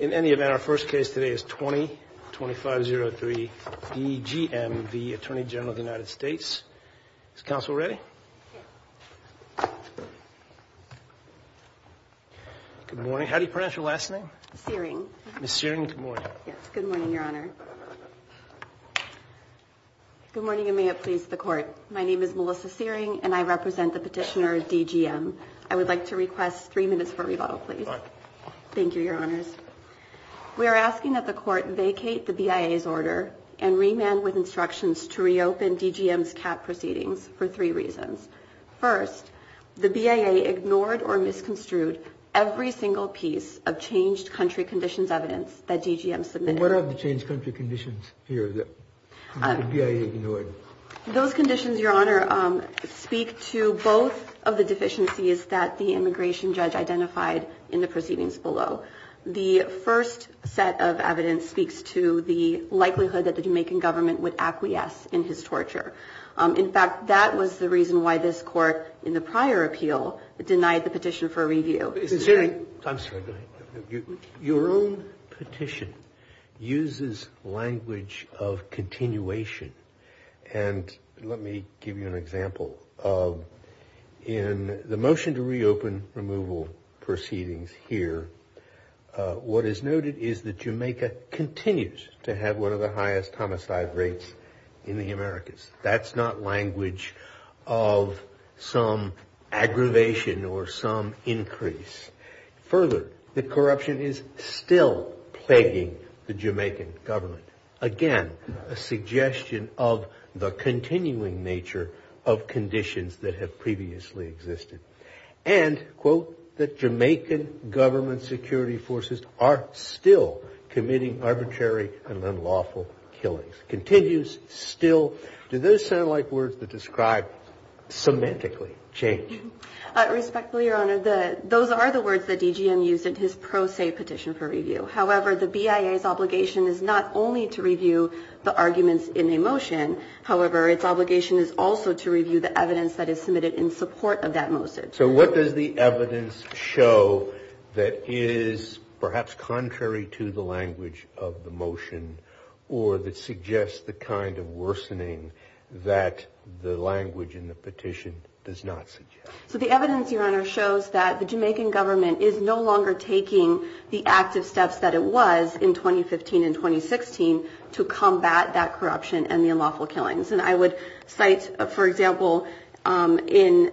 In any event, our first case today is 20-2503 DGM v. Attorney General of the United States. Is counsel ready? Good morning. How do you pronounce your last name? Searing. Ms. Searing, good morning. Good morning, Your Honor. Good morning and may it please the court. My name is Melissa Searing and I represent the petitioner DGM. I would like to request three minutes for rebuttal, please. Thank you, Your Honors. We are asking that the court vacate the BIA's order and remand with instructions to reopen DGM's cap proceedings for three reasons. First, the BIA ignored or misconstrued every single piece of changed country conditions evidence that DGM submitted. What are the changed country conditions here that the BIA ignored? Those conditions, Your Honor, speak to both of the deficiencies that the immigration judge identified in the proceedings below. The first set of evidence speaks to the likelihood that the Jamaican government would acquiesce in his torture. In fact, that was the reason why this court in the prior appeal denied the petition for review. I'm sorry. Your own petition uses language of continuation. And let me give you an example of in the motion to reopen removal proceedings here. What is noted is that Jamaica continues to have one of the highest homicide rates in the Americas. That's not language of some aggravation or some increase. Further, the corruption is still plaguing the Jamaican government. Again, a suggestion of the continuing nature of conditions that have previously existed. And, quote, that Jamaican government security forces are still committing arbitrary and unlawful killings. Continues still. Do those sound like words that describe semantically change? Respectfully, Your Honor, those are the words that DGM used in his pro se petition for review. However, the BIA's obligation is not only to review the arguments in a motion. However, its obligation is also to review the evidence that is submitted in support of that motion. So what does the evidence show that is perhaps contrary to the language of the motion or that suggests the kind of worsening that the language in the petition does not? So the evidence, Your Honor, shows that the Jamaican government is no longer taking the active steps that it was in 2015 and 2016 to combat that corruption and the unlawful killings. And I would cite, for example, in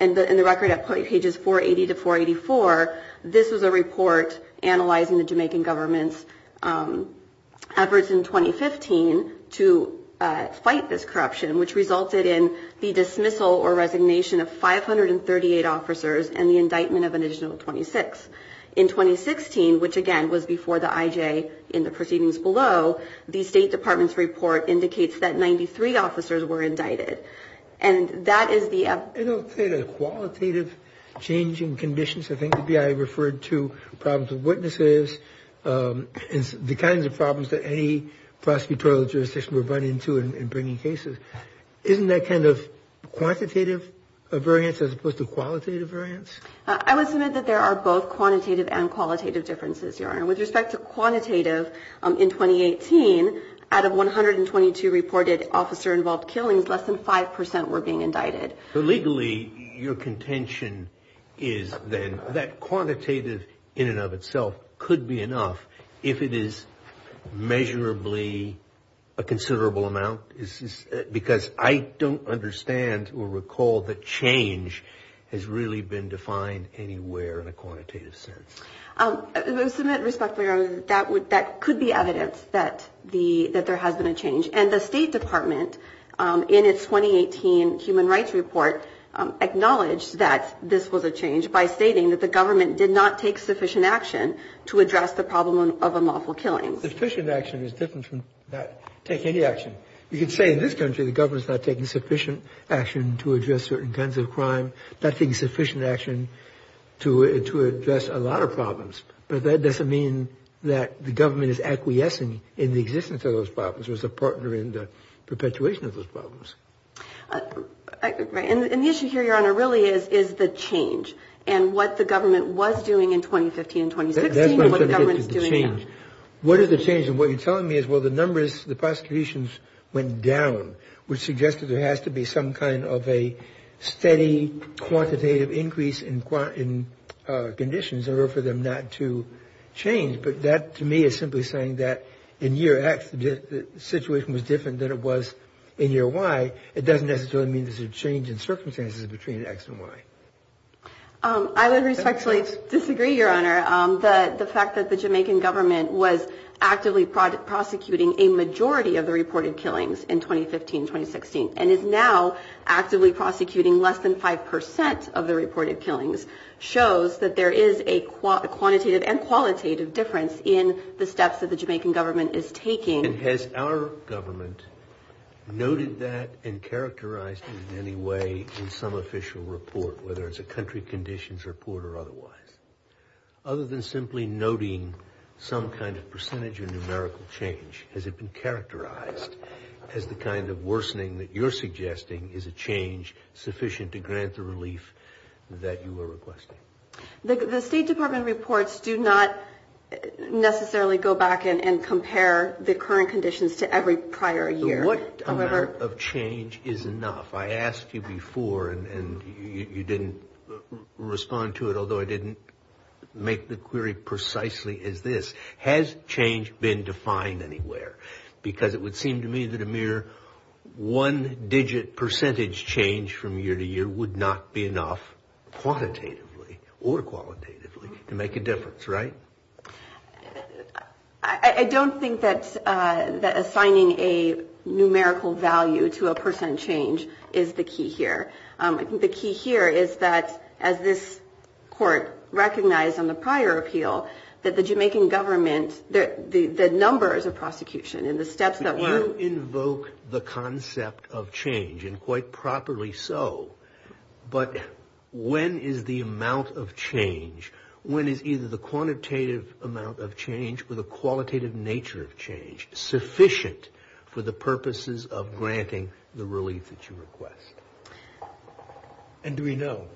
the record at pages 480 to 484, this was a report analyzing the Jamaican government's efforts in 2015 to fight this corruption, which resulted in the dismissal or resignation of 538 officers and the indictment of an additional 26. In 2016, which, again, was before the IJ in the proceedings below, the State Department's report indicates that 93 officers were indicted. And that is the qualitative changing conditions. I think the BIA referred to problems with witnesses, the kinds of problems that any prosecutorial jurisdiction were brought into in bringing cases. Isn't that kind of quantitative variance as opposed to qualitative variance? I would submit that there are both quantitative and qualitative differences, Your Honor. With respect to quantitative, in 2018, out of 122 reported officer-involved killings, less than 5 percent were being indicted. Legally, your contention is then that quantitative in and of itself could be enough if it is measurably a considerable amount. Because I don't understand or recall that change has really been defined anywhere in a quantitative sense. I submit respectfully, Your Honor, that could be evidence that there has been a change. And the State Department, in its 2018 Human Rights Report, acknowledged that this was a change by stating that the government did not take sufficient action to address the problem of unlawful killings. Sufficient action is different from not taking any action. You could say in this country the government is not taking sufficient action to address certain kinds of crime, not taking sufficient action to address a lot of problems. But that doesn't mean that the government is acquiescing in the existence of those problems or is a partner in the perpetuation of those problems. And the issue here, Your Honor, really is the change and what the government was doing in 2015 and 2016 and what the government is doing now. What is the change? And what you're telling me is, well, the numbers, the prosecutions went down, which suggests that there has to be some kind of a steady quantitative increase in conditions in order for them not to change. But that, to me, is simply saying that in year X, the situation was different than it was in year Y. It doesn't necessarily mean there's a change in circumstances between X and Y. I would respectfully disagree, Your Honor. The fact that the Jamaican government was actively prosecuting a majority of the reported killings in 2015-2016 and is now actively prosecuting less than 5 percent of the reported killings shows that there is a quantitative and qualitative difference in the steps that the Jamaican government is taking. And has our government noted that and characterized it in any way in some official report, whether it's a country conditions report or otherwise? Other than simply noting some kind of percentage or numerical change, has it been characterized as the kind of worsening that you're suggesting is a change sufficient to grant the relief that you are requesting? The State Department reports do not necessarily go back and compare the current conditions to every prior year. What amount of change is enough? I asked you before and you didn't respond to it, although I didn't make the query precisely as this. Has change been defined anywhere? Because it would seem to me that a mere one digit percentage change from year to year would not be enough quantitatively or qualitatively to make a difference, right? I don't think that assigning a numerical value to a percent change is the key here. I think the key here is that as this court recognized on the prior appeal that the Jamaican government, the numbers of prosecution and the steps that were... ...with a quantitative amount of change, with a qualitative nature of change, sufficient for the purposes of granting the relief that you request. And do we know?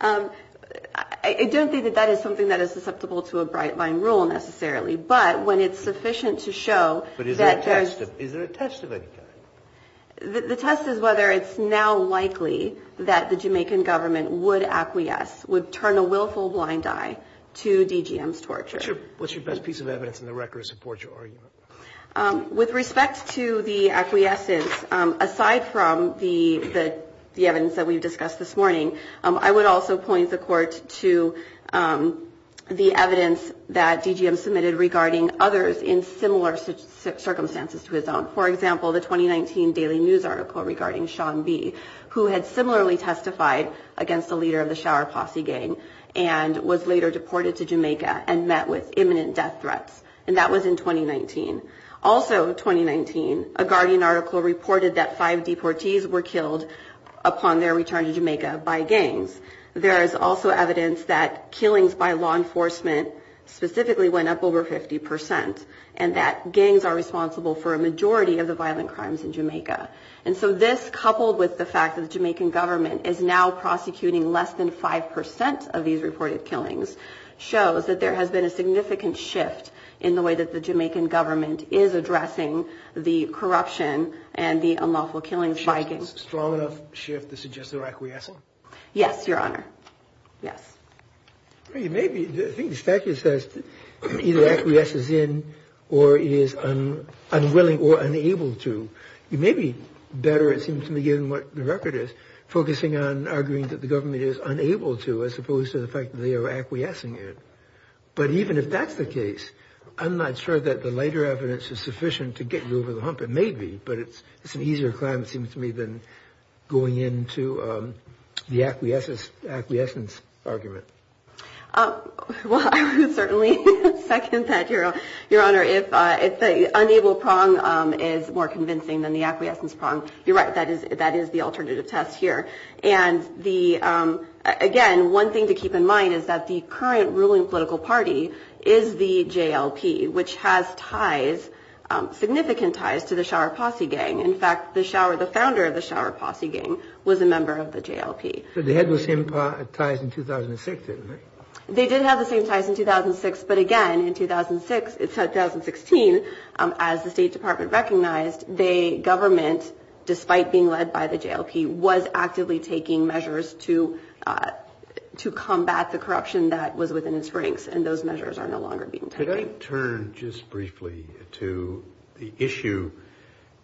I don't think that that is something that is susceptible to a bright line rule necessarily, but when it's sufficient to show that there's... But is there a test of any kind? The test is whether it's now likely that the Jamaican government would acquiesce, would turn a willful blind eye to DGM's torture. What's your best piece of evidence in the record to support your argument? With respect to the acquiescence, aside from the evidence that we've discussed this morning, I would also point the court to the evidence that DGM submitted regarding others in similar circumstances to his own. For example, the 2019 Daily News article regarding Sean B., who had similarly testified against the leader of the Shower Posse gang and was later deported to Jamaica and met with imminent death threats. And that was in 2019. Also in 2019, a Guardian article reported that five deportees were killed upon their return to Jamaica by gangs. There is also evidence that killings by law enforcement specifically went up over 50% and that gangs are responsible for a majority of the violent crimes in Jamaica. And so this, coupled with the fact that the Jamaican government is now prosecuting less than 5% of these reported killings, shows that there has been a significant shift in the way that the Jamaican government is addressing the corruption and the unlawful killings by gangs. A strong enough shift to suggest they're acquiescing? Yes, Your Honor. Yes. I think the statute says either acquiesces in or is unwilling or unable to. It may be better, it seems to me, given what the record is, focusing on arguing that the government is unable to as opposed to the fact that they are acquiescing in. But even if that's the case, I'm not sure that the later evidence is sufficient to get you over the hump. It may be, but it's an easier climb, it seems to me, than going into the acquiescence argument. Well, I would certainly second that, Your Honor. If the unable prong is more convincing than the acquiescence prong, you're right. That is the alternative test here. Again, one thing to keep in mind is that the current ruling political party is the JLP, which has ties, significant ties, to the Shower Posse gang. In fact, the founder of the Shower Posse gang was a member of the JLP. But they had the same ties in 2006, didn't they? They did have the same ties in 2006. But again, in 2016, as the State Department recognized, the government, despite being led by the JLP, was actively taking measures to combat the corruption that was within its ranks. And those measures are no longer being taken. Could I turn just briefly to the issue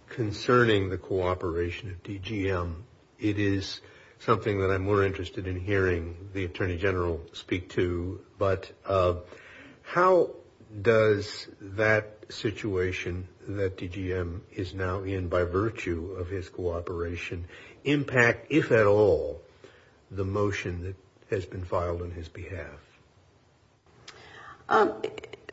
concerning the cooperation of DGM? It is something that I'm more interested in hearing the Attorney General speak to. But how does that situation that DGM is now in, by virtue of his cooperation, impact, if at all, the motion that has been filed on his behalf? Well,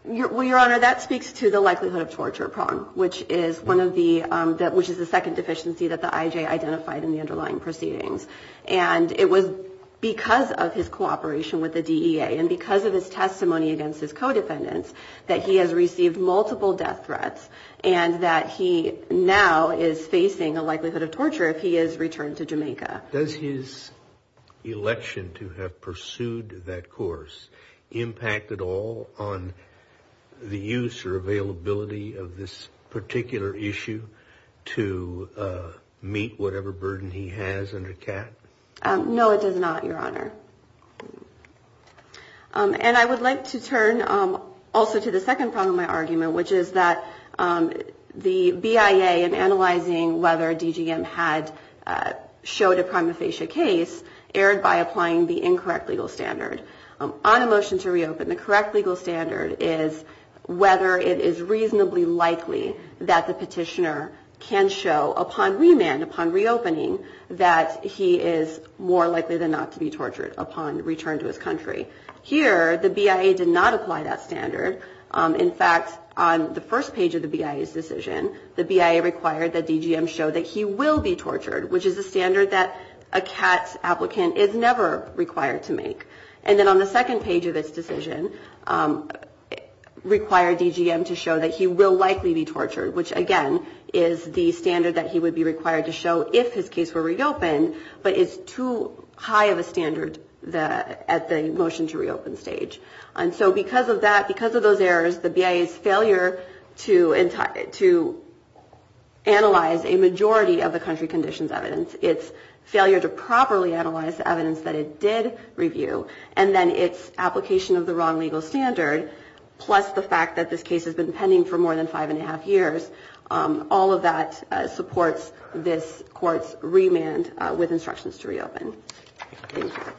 Your Honor, that speaks to the likelihood of torture prong, which is the second deficiency that the IJ identified in the underlying proceedings. And it was because of his cooperation with the DEA and because of his testimony against his co-defendants that he has received multiple death threats and that he now is facing a likelihood of torture if he is returned to Jamaica. Does his election to have pursued that course impact at all on the use or availability of this particular issue to meet whatever burden he has under CAT? No, it does not, Your Honor. And I would like to turn also to the second prong of my argument, which is that the BIA, in analyzing whether DGM had showed a prima facie case, erred by applying the incorrect legal standard. On a motion to reopen, the correct legal standard is whether it is reasonably likely that the petitioner can show upon remand, upon reopening, that he is more likely than not to be tortured upon return to his country. Here, the BIA did not apply that standard. In fact, on the first page of the BIA's decision, the BIA required that DGM show that he will be tortured, which is a standard that a CAT applicant is never required to make. And then on the second page of its decision, it required DGM to show that he will likely be tortured, which, again, is the standard that he would be required to show if his case were reopened, but is too high of a standard at the motion to reopen stage. And so because of that, because of those errors, the BIA's failure to analyze a majority of the country conditions evidence, its failure to properly analyze the evidence that it did review, and then its application of the wrong legal standard, plus the fact that this case has been pending for more than five and a half years, all of that supports this court's remand with instructions to reopen. Thank you.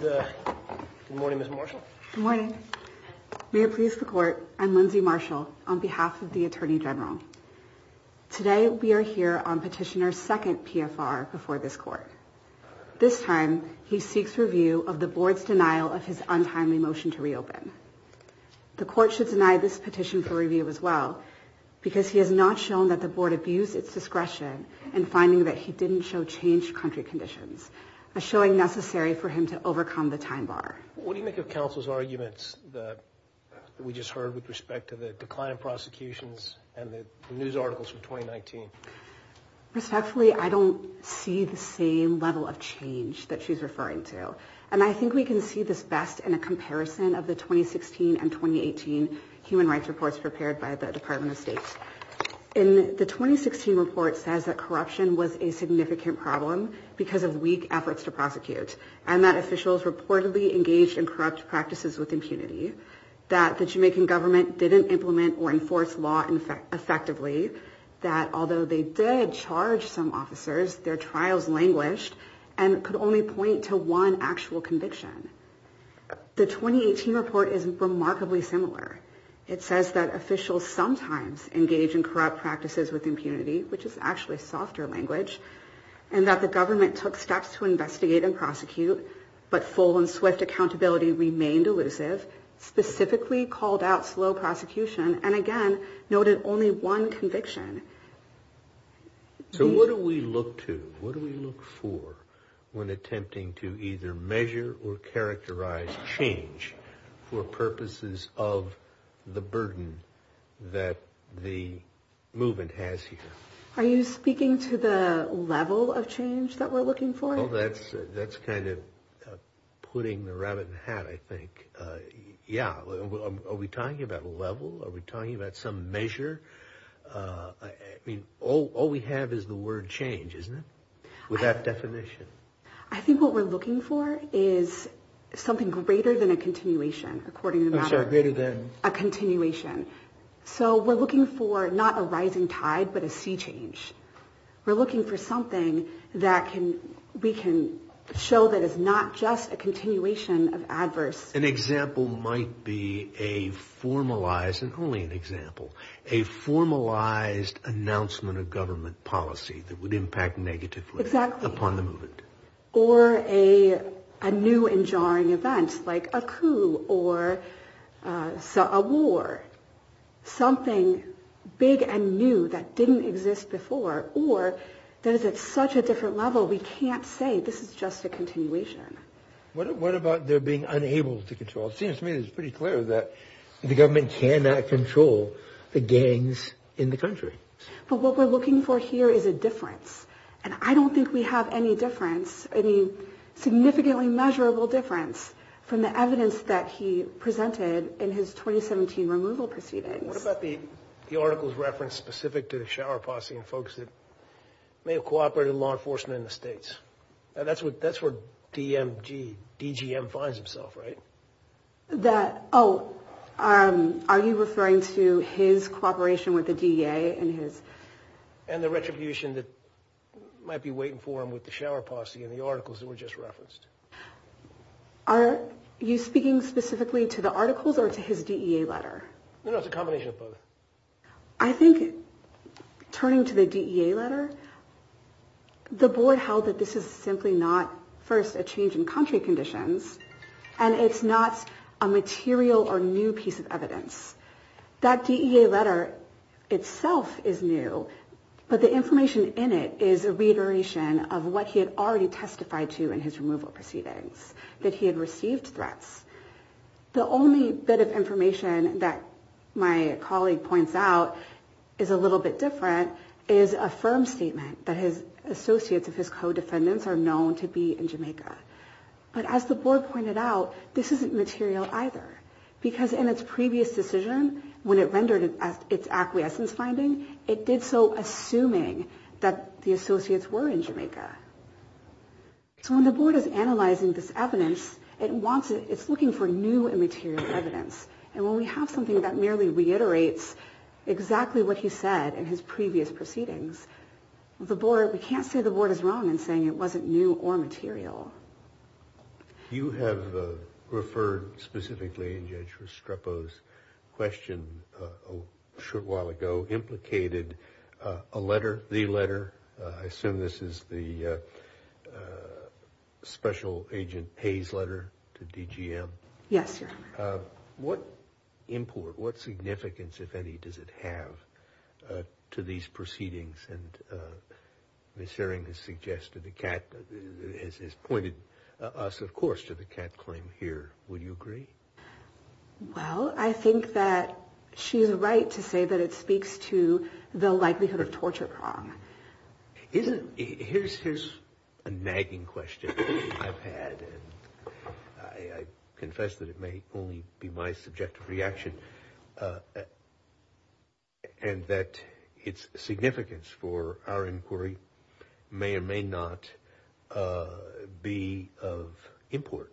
Good morning, Ms. Marshall. Good morning. May it please the court, I'm Lindsay Marshall, on behalf of the Attorney General. Today, we are here on Petitioner's second PFR before this court. This time, he seeks review of the board's denial of his untimely motion to reopen. The court should deny this petition for review as well, because he has not shown that the board abused its discretion in finding that he didn't show changed country conditions, a showing necessary for him to overcome the time bar. What do you make of counsel's arguments that we just heard with respect to the decline of prosecutions and the news articles from 2019? Respectfully, I don't see the same level of change that she's referring to. And I think we can see this best in a comparison of the 2016 and 2018 human rights reports prepared by the Department of State. In the 2016 report, it says that corruption was a significant problem because of weak efforts to prosecute and that officials reportedly engaged in corrupt practices with impunity, that the Jamaican government didn't implement or enforce law effectively, that although they did charge some officers, their trials languished and could only point to one actual conviction. The 2018 report is remarkably similar. It says that officials sometimes engage in corrupt practices with impunity, which is actually softer language, and that the government took steps to investigate and prosecute, but full and swift accountability remained elusive, specifically called out slow prosecution, and again, noted only one conviction. So what do we look to, what do we look for when attempting to either measure or characterize change for purposes of the burden that the movement has here? Are you speaking to the level of change that we're looking for? That's kind of putting the rabbit in the hat, I think. Yeah. Are we talking about level? Are we talking about some measure? I mean, all we have is the word change, isn't it? With that definition. I think what we're looking for is something greater than a continuation, according to the matter. I'm sorry, greater than? A continuation. So we're looking for not a rising tide, but a sea change. We're looking for something that we can show that is not just a continuation of adverse. An example might be a formalized, and only an example, a formalized announcement of government policy that would impact negatively upon the movement. Exactly. Or a new and jarring event like a coup or a war, something big and new that didn't exist before, or that is at such a different level, we can't say this is just a continuation. What about their being unable to control? It seems to me that it's pretty clear that the government cannot control the gangs in the country. But what we're looking for here is a difference. And I don't think we have any difference, any significantly measurable difference, from the evidence that he presented in his 2017 removal proceedings. What about the article's reference specific to the shower posse and folks that may have cooperated in law enforcement in the states? That's where DGM finds himself, right? That, oh, are you referring to his cooperation with the DEA and his? And the retribution that might be waiting for him with the shower posse and the articles that were just referenced. Are you speaking specifically to the articles or to his DEA letter? No, no, it's a combination of both. I think turning to the DEA letter, the board held that this is simply not, first, a change in country conditions, and it's not a material or new piece of evidence. That DEA letter itself is new, but the information in it is a reiteration of what he had already testified to in his removal proceedings, that he had received threats. The only bit of information that my colleague points out is a little bit different, is a firm statement that his associates of his co-defendants are known to be in Jamaica. But as the board pointed out, this isn't material either, because in its previous decision, when it rendered its acquiescence finding, it did so assuming that the associates were in Jamaica. So when the board is analyzing this evidence, it's looking for new and material evidence. And when we have something that merely reiterates exactly what he said in his previous proceedings, we can't say the board is wrong in saying it wasn't new or material. You have referred specifically, in Judge Restrepo's question a short while ago, implicated a letter, the letter, I assume this is the Special Agent Hayes letter to DGM. Yes, Your Honor. What import, what significance, if any, does it have to these proceedings? And Ms. Sherring has suggested, has pointed us, of course, to the cat claim here. Would you agree? Well, I think that she is right to say that it speaks to the likelihood of torture prong. Here's a nagging question I've had, and I confess that it may only be my subjective reaction, and that its significance for our inquiry may or may not be of import.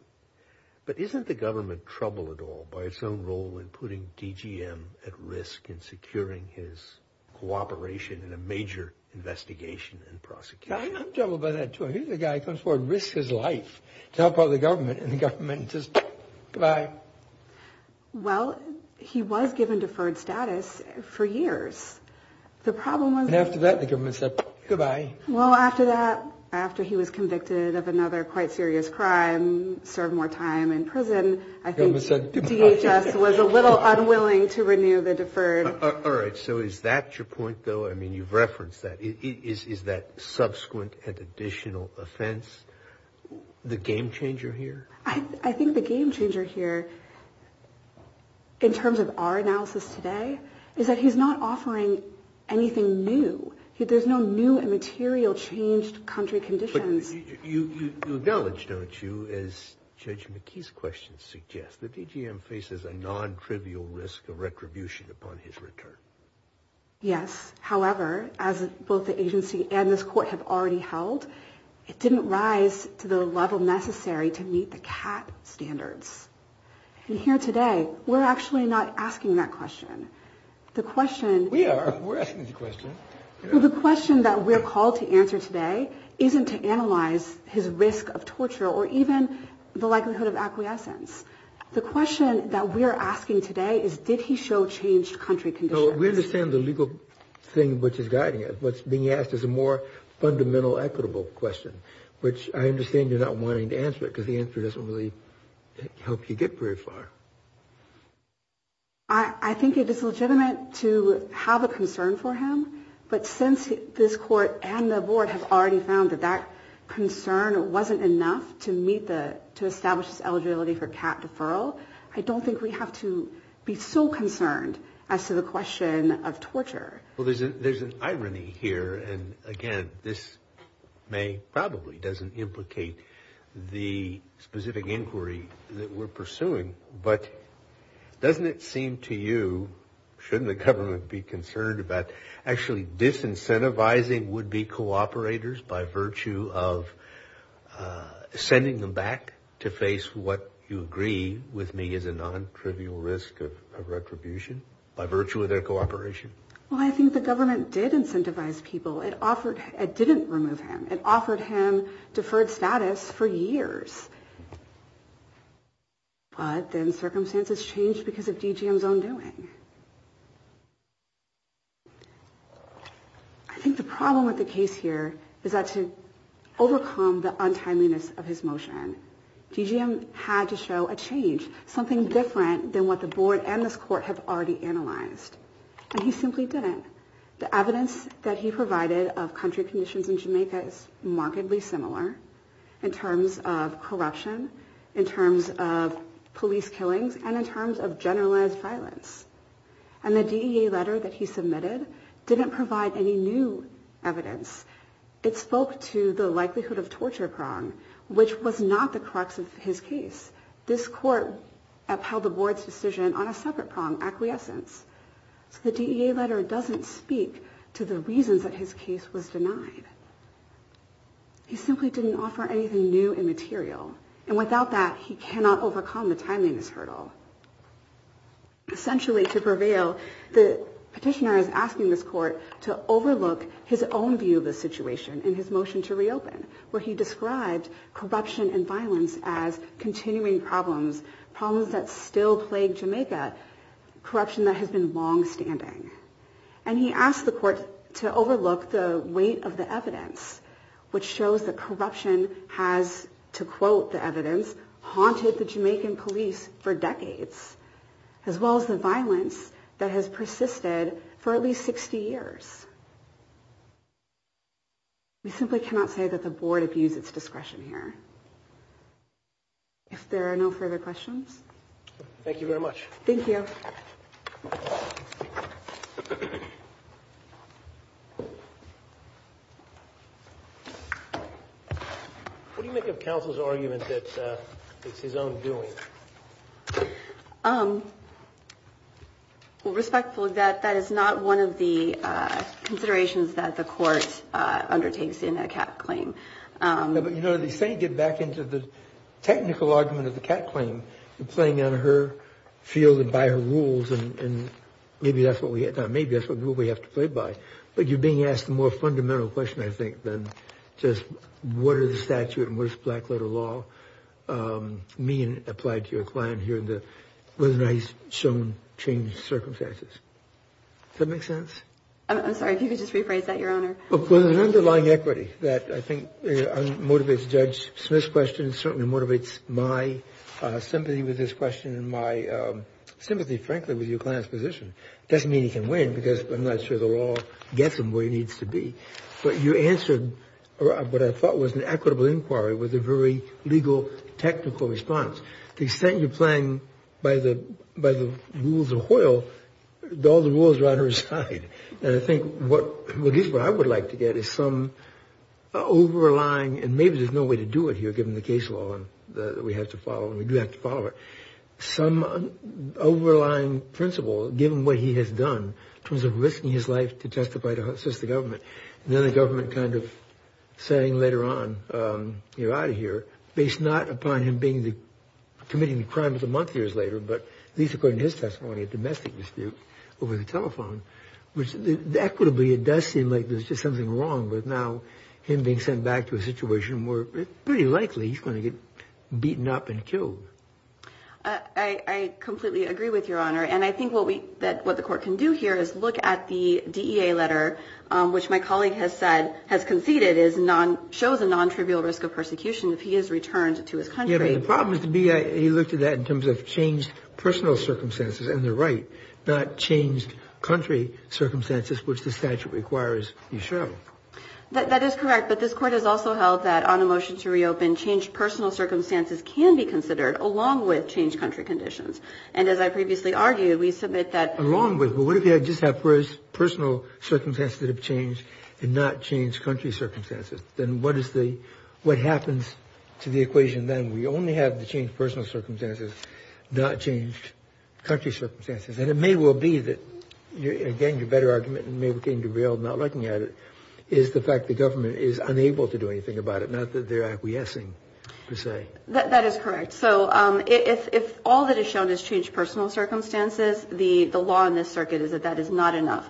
But isn't the government troubled at all by its own role in putting DGM at risk in securing his cooperation in a major investigation and prosecution? I'm troubled by that, too. Here's a guy who comes forward and risks his life to help out the government, and the government just, goodbye. Well, he was given deferred status for years. The problem was... And after that, the government said, goodbye. Well, after that, after he was convicted of another quite serious crime, served more time in prison, I think DHS was a little unwilling to renew the deferred... All right. So is that your point, though? I mean, you've referenced that. Is that subsequent and additional offense the game changer here? I think the game changer here, in terms of our analysis today, is that he's not offering anything new. There's no new and material changed country conditions. But you acknowledge, don't you, as Judge McKee's question suggests, that DGM faces a non-trivial risk of retribution upon his return? Yes. However, as both the agency and this court have already held, it didn't rise to the level necessary to meet the CAT standards. And here today, we're actually not asking that question. The question... We are. We're asking the question. The question that we're called to answer today isn't to analyze his risk of torture or even the likelihood of acquiescence. The question that we're asking today is, did he show changed country conditions? We understand the legal thing which is guiding it. What's being asked is a more fundamental equitable question, which I understand you're not wanting to answer it because the answer doesn't really help you get very far. I think it is legitimate to have a concern for him. But since this court and the board have already found that that concern wasn't enough to establish his eligibility for CAT deferral, I don't think we have to be so concerned as to the question of torture. Well, there's an irony here. And, again, this probably doesn't implicate the specific inquiry that we're pursuing. But doesn't it seem to you, shouldn't the government be concerned about actually disincentivizing would-be cooperators by virtue of sending them back to face what you agree with me is a non-trivial risk of retribution by virtue of their cooperation? Well, I think the government did incentivize people. It didn't remove him. It offered him deferred status for years. But then circumstances changed because of DGM's own doing. I think the problem with the case here is that to overcome the untimeliness of his motion, DGM had to show a change, something different than what the board and this court have already analyzed. And he simply didn't. The evidence that he provided of country conditions in Jamaica is markedly similar in terms of corruption, in terms of police killings, and in terms of generalized violence. And the DEA letter that he submitted didn't provide any new evidence. It spoke to the likelihood of torture prong, which was not the crux of his case. This court upheld the board's decision on a separate prong, acquiescence. So the DEA letter doesn't speak to the reasons that his case was denied. He simply didn't offer anything new and material. And without that, he cannot overcome the timeliness hurdle. Essentially, to prevail, the petitioner is asking this court to overlook his own view of the situation in his motion to reopen, where he described corruption and violence as continuing problems, problems that still plague Jamaica, corruption that has been longstanding. And he asked the court to overlook the weight of the evidence, which shows that corruption has, to quote the evidence, haunted the Jamaican police for decades, as well as the violence that has persisted for at least 60 years. We simply cannot say that the board abused its discretion here. If there are no further questions. Thank you very much. Thank you. What do you make of counsel's argument that it's his own doing? Well, respectfully, that that is not one of the considerations that the court undertakes in a cat claim. But, you know, they say get back into the technical argument of the cat claim and playing on her field and by her rules. And maybe that's what we had. Maybe that's what we have to play by. But you're being asked a more fundamental question, I think, than just what are the statute and what is black letter law mean applied to your client here? And the nice shown changed circumstances. That makes sense. Well, there's an underlying equity that I think motivates Judge Smith's question. Certainly motivates my sympathy with this question and my sympathy, frankly, with your client's position. Doesn't mean he can win because I'm not sure the law gets him where he needs to be. But you answered what I thought was an equitable inquiry with a very legal, technical response. They say you're playing by the by the rules of oil. All the rules are on her side. And I think what I would like to get is some overlying. And maybe there's no way to do it here, given the case law that we have to follow and we do have to follow it. Some overlying principle, given what he has done in terms of risking his life to testify to assist the government. And then the government kind of saying later on, you're out of here, based not upon him being committing the crime of the month years later. But at least according to his testimony, a domestic dispute over the telephone, which equitably, it does seem like there's just something wrong with now him being sent back to a situation where it's pretty likely he's going to get beaten up and killed. I completely agree with your honor. And I think what we that what the court can do here is look at the letter, which my colleague has said has conceded is non shows a nontrivial risk of persecution. If he is returned to his country, the problem is to be. He looked at that in terms of changed personal circumstances. And they're right. Not changed country circumstances, which the statute requires. You show that that is correct. But this court has also held that on a motion to reopen, changed personal circumstances can be considered along with changed country conditions. And as I previously argued, we submit that along with what if you just have personal circumstances that have changed and not changed country circumstances? Then what is the what happens to the equation? Then we only have to change personal circumstances, not change country circumstances. And it may well be that you're getting a better argument and maybe getting derailed. Not looking at it is the fact the government is unable to do anything about it, not that they're acquiescing to say that that is correct. So if all that is shown has changed personal circumstances, the law in this circuit is that that is not enough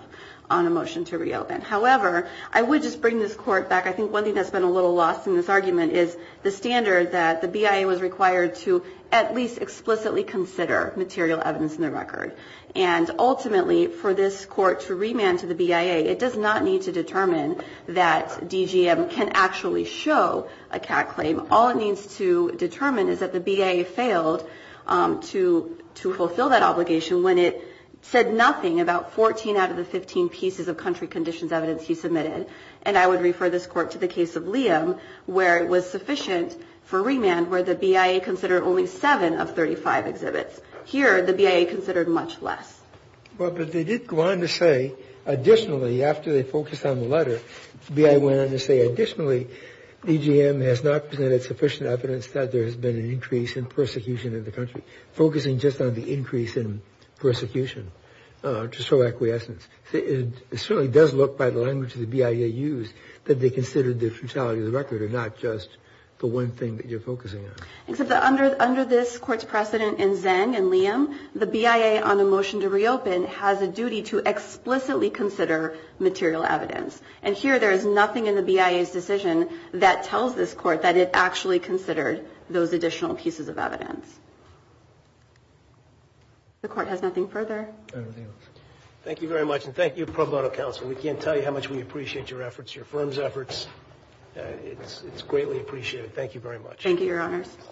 on a motion to reopen. However, I would just bring this court back. I think one thing that's been a little lost in this argument is the standard that the BIA was required to at least explicitly consider material evidence in the record. And ultimately, for this court to remand to the BIA, it does not need to determine that DGM can actually show a CAC claim. All it needs to determine is that the BIA failed to fulfill that obligation when it said nothing about 14 out of the 15 pieces of country conditions evidence he submitted. And I would refer this court to the case of Liam, where it was sufficient for remand, where the BIA considered only seven of 35 exhibits. Here, the BIA considered much less. Well, but they did go on to say additionally, after they focused on the letter, BIA went on to say additionally, DGM has not presented sufficient evidence that there has been an increase in persecution in the country, focusing just on the increase in persecution to show acquiescence. It certainly does look, by the language the BIA used, that they considered the futility of the record, and not just the one thing that you're focusing on. Except that under this Court's precedent in Zeng and Liam, the BIA, on the motion to reopen, has a duty to explicitly consider material evidence. And here, there is nothing in the BIA's decision that tells this Court that it actually considered those additional pieces of evidence. The Court has nothing further. Thank you very much. And thank you, Pro Bono Council. We can't tell you how much we appreciate your efforts, your firm's efforts. It's greatly appreciated. Thank you very much. Thank you, Your Honors.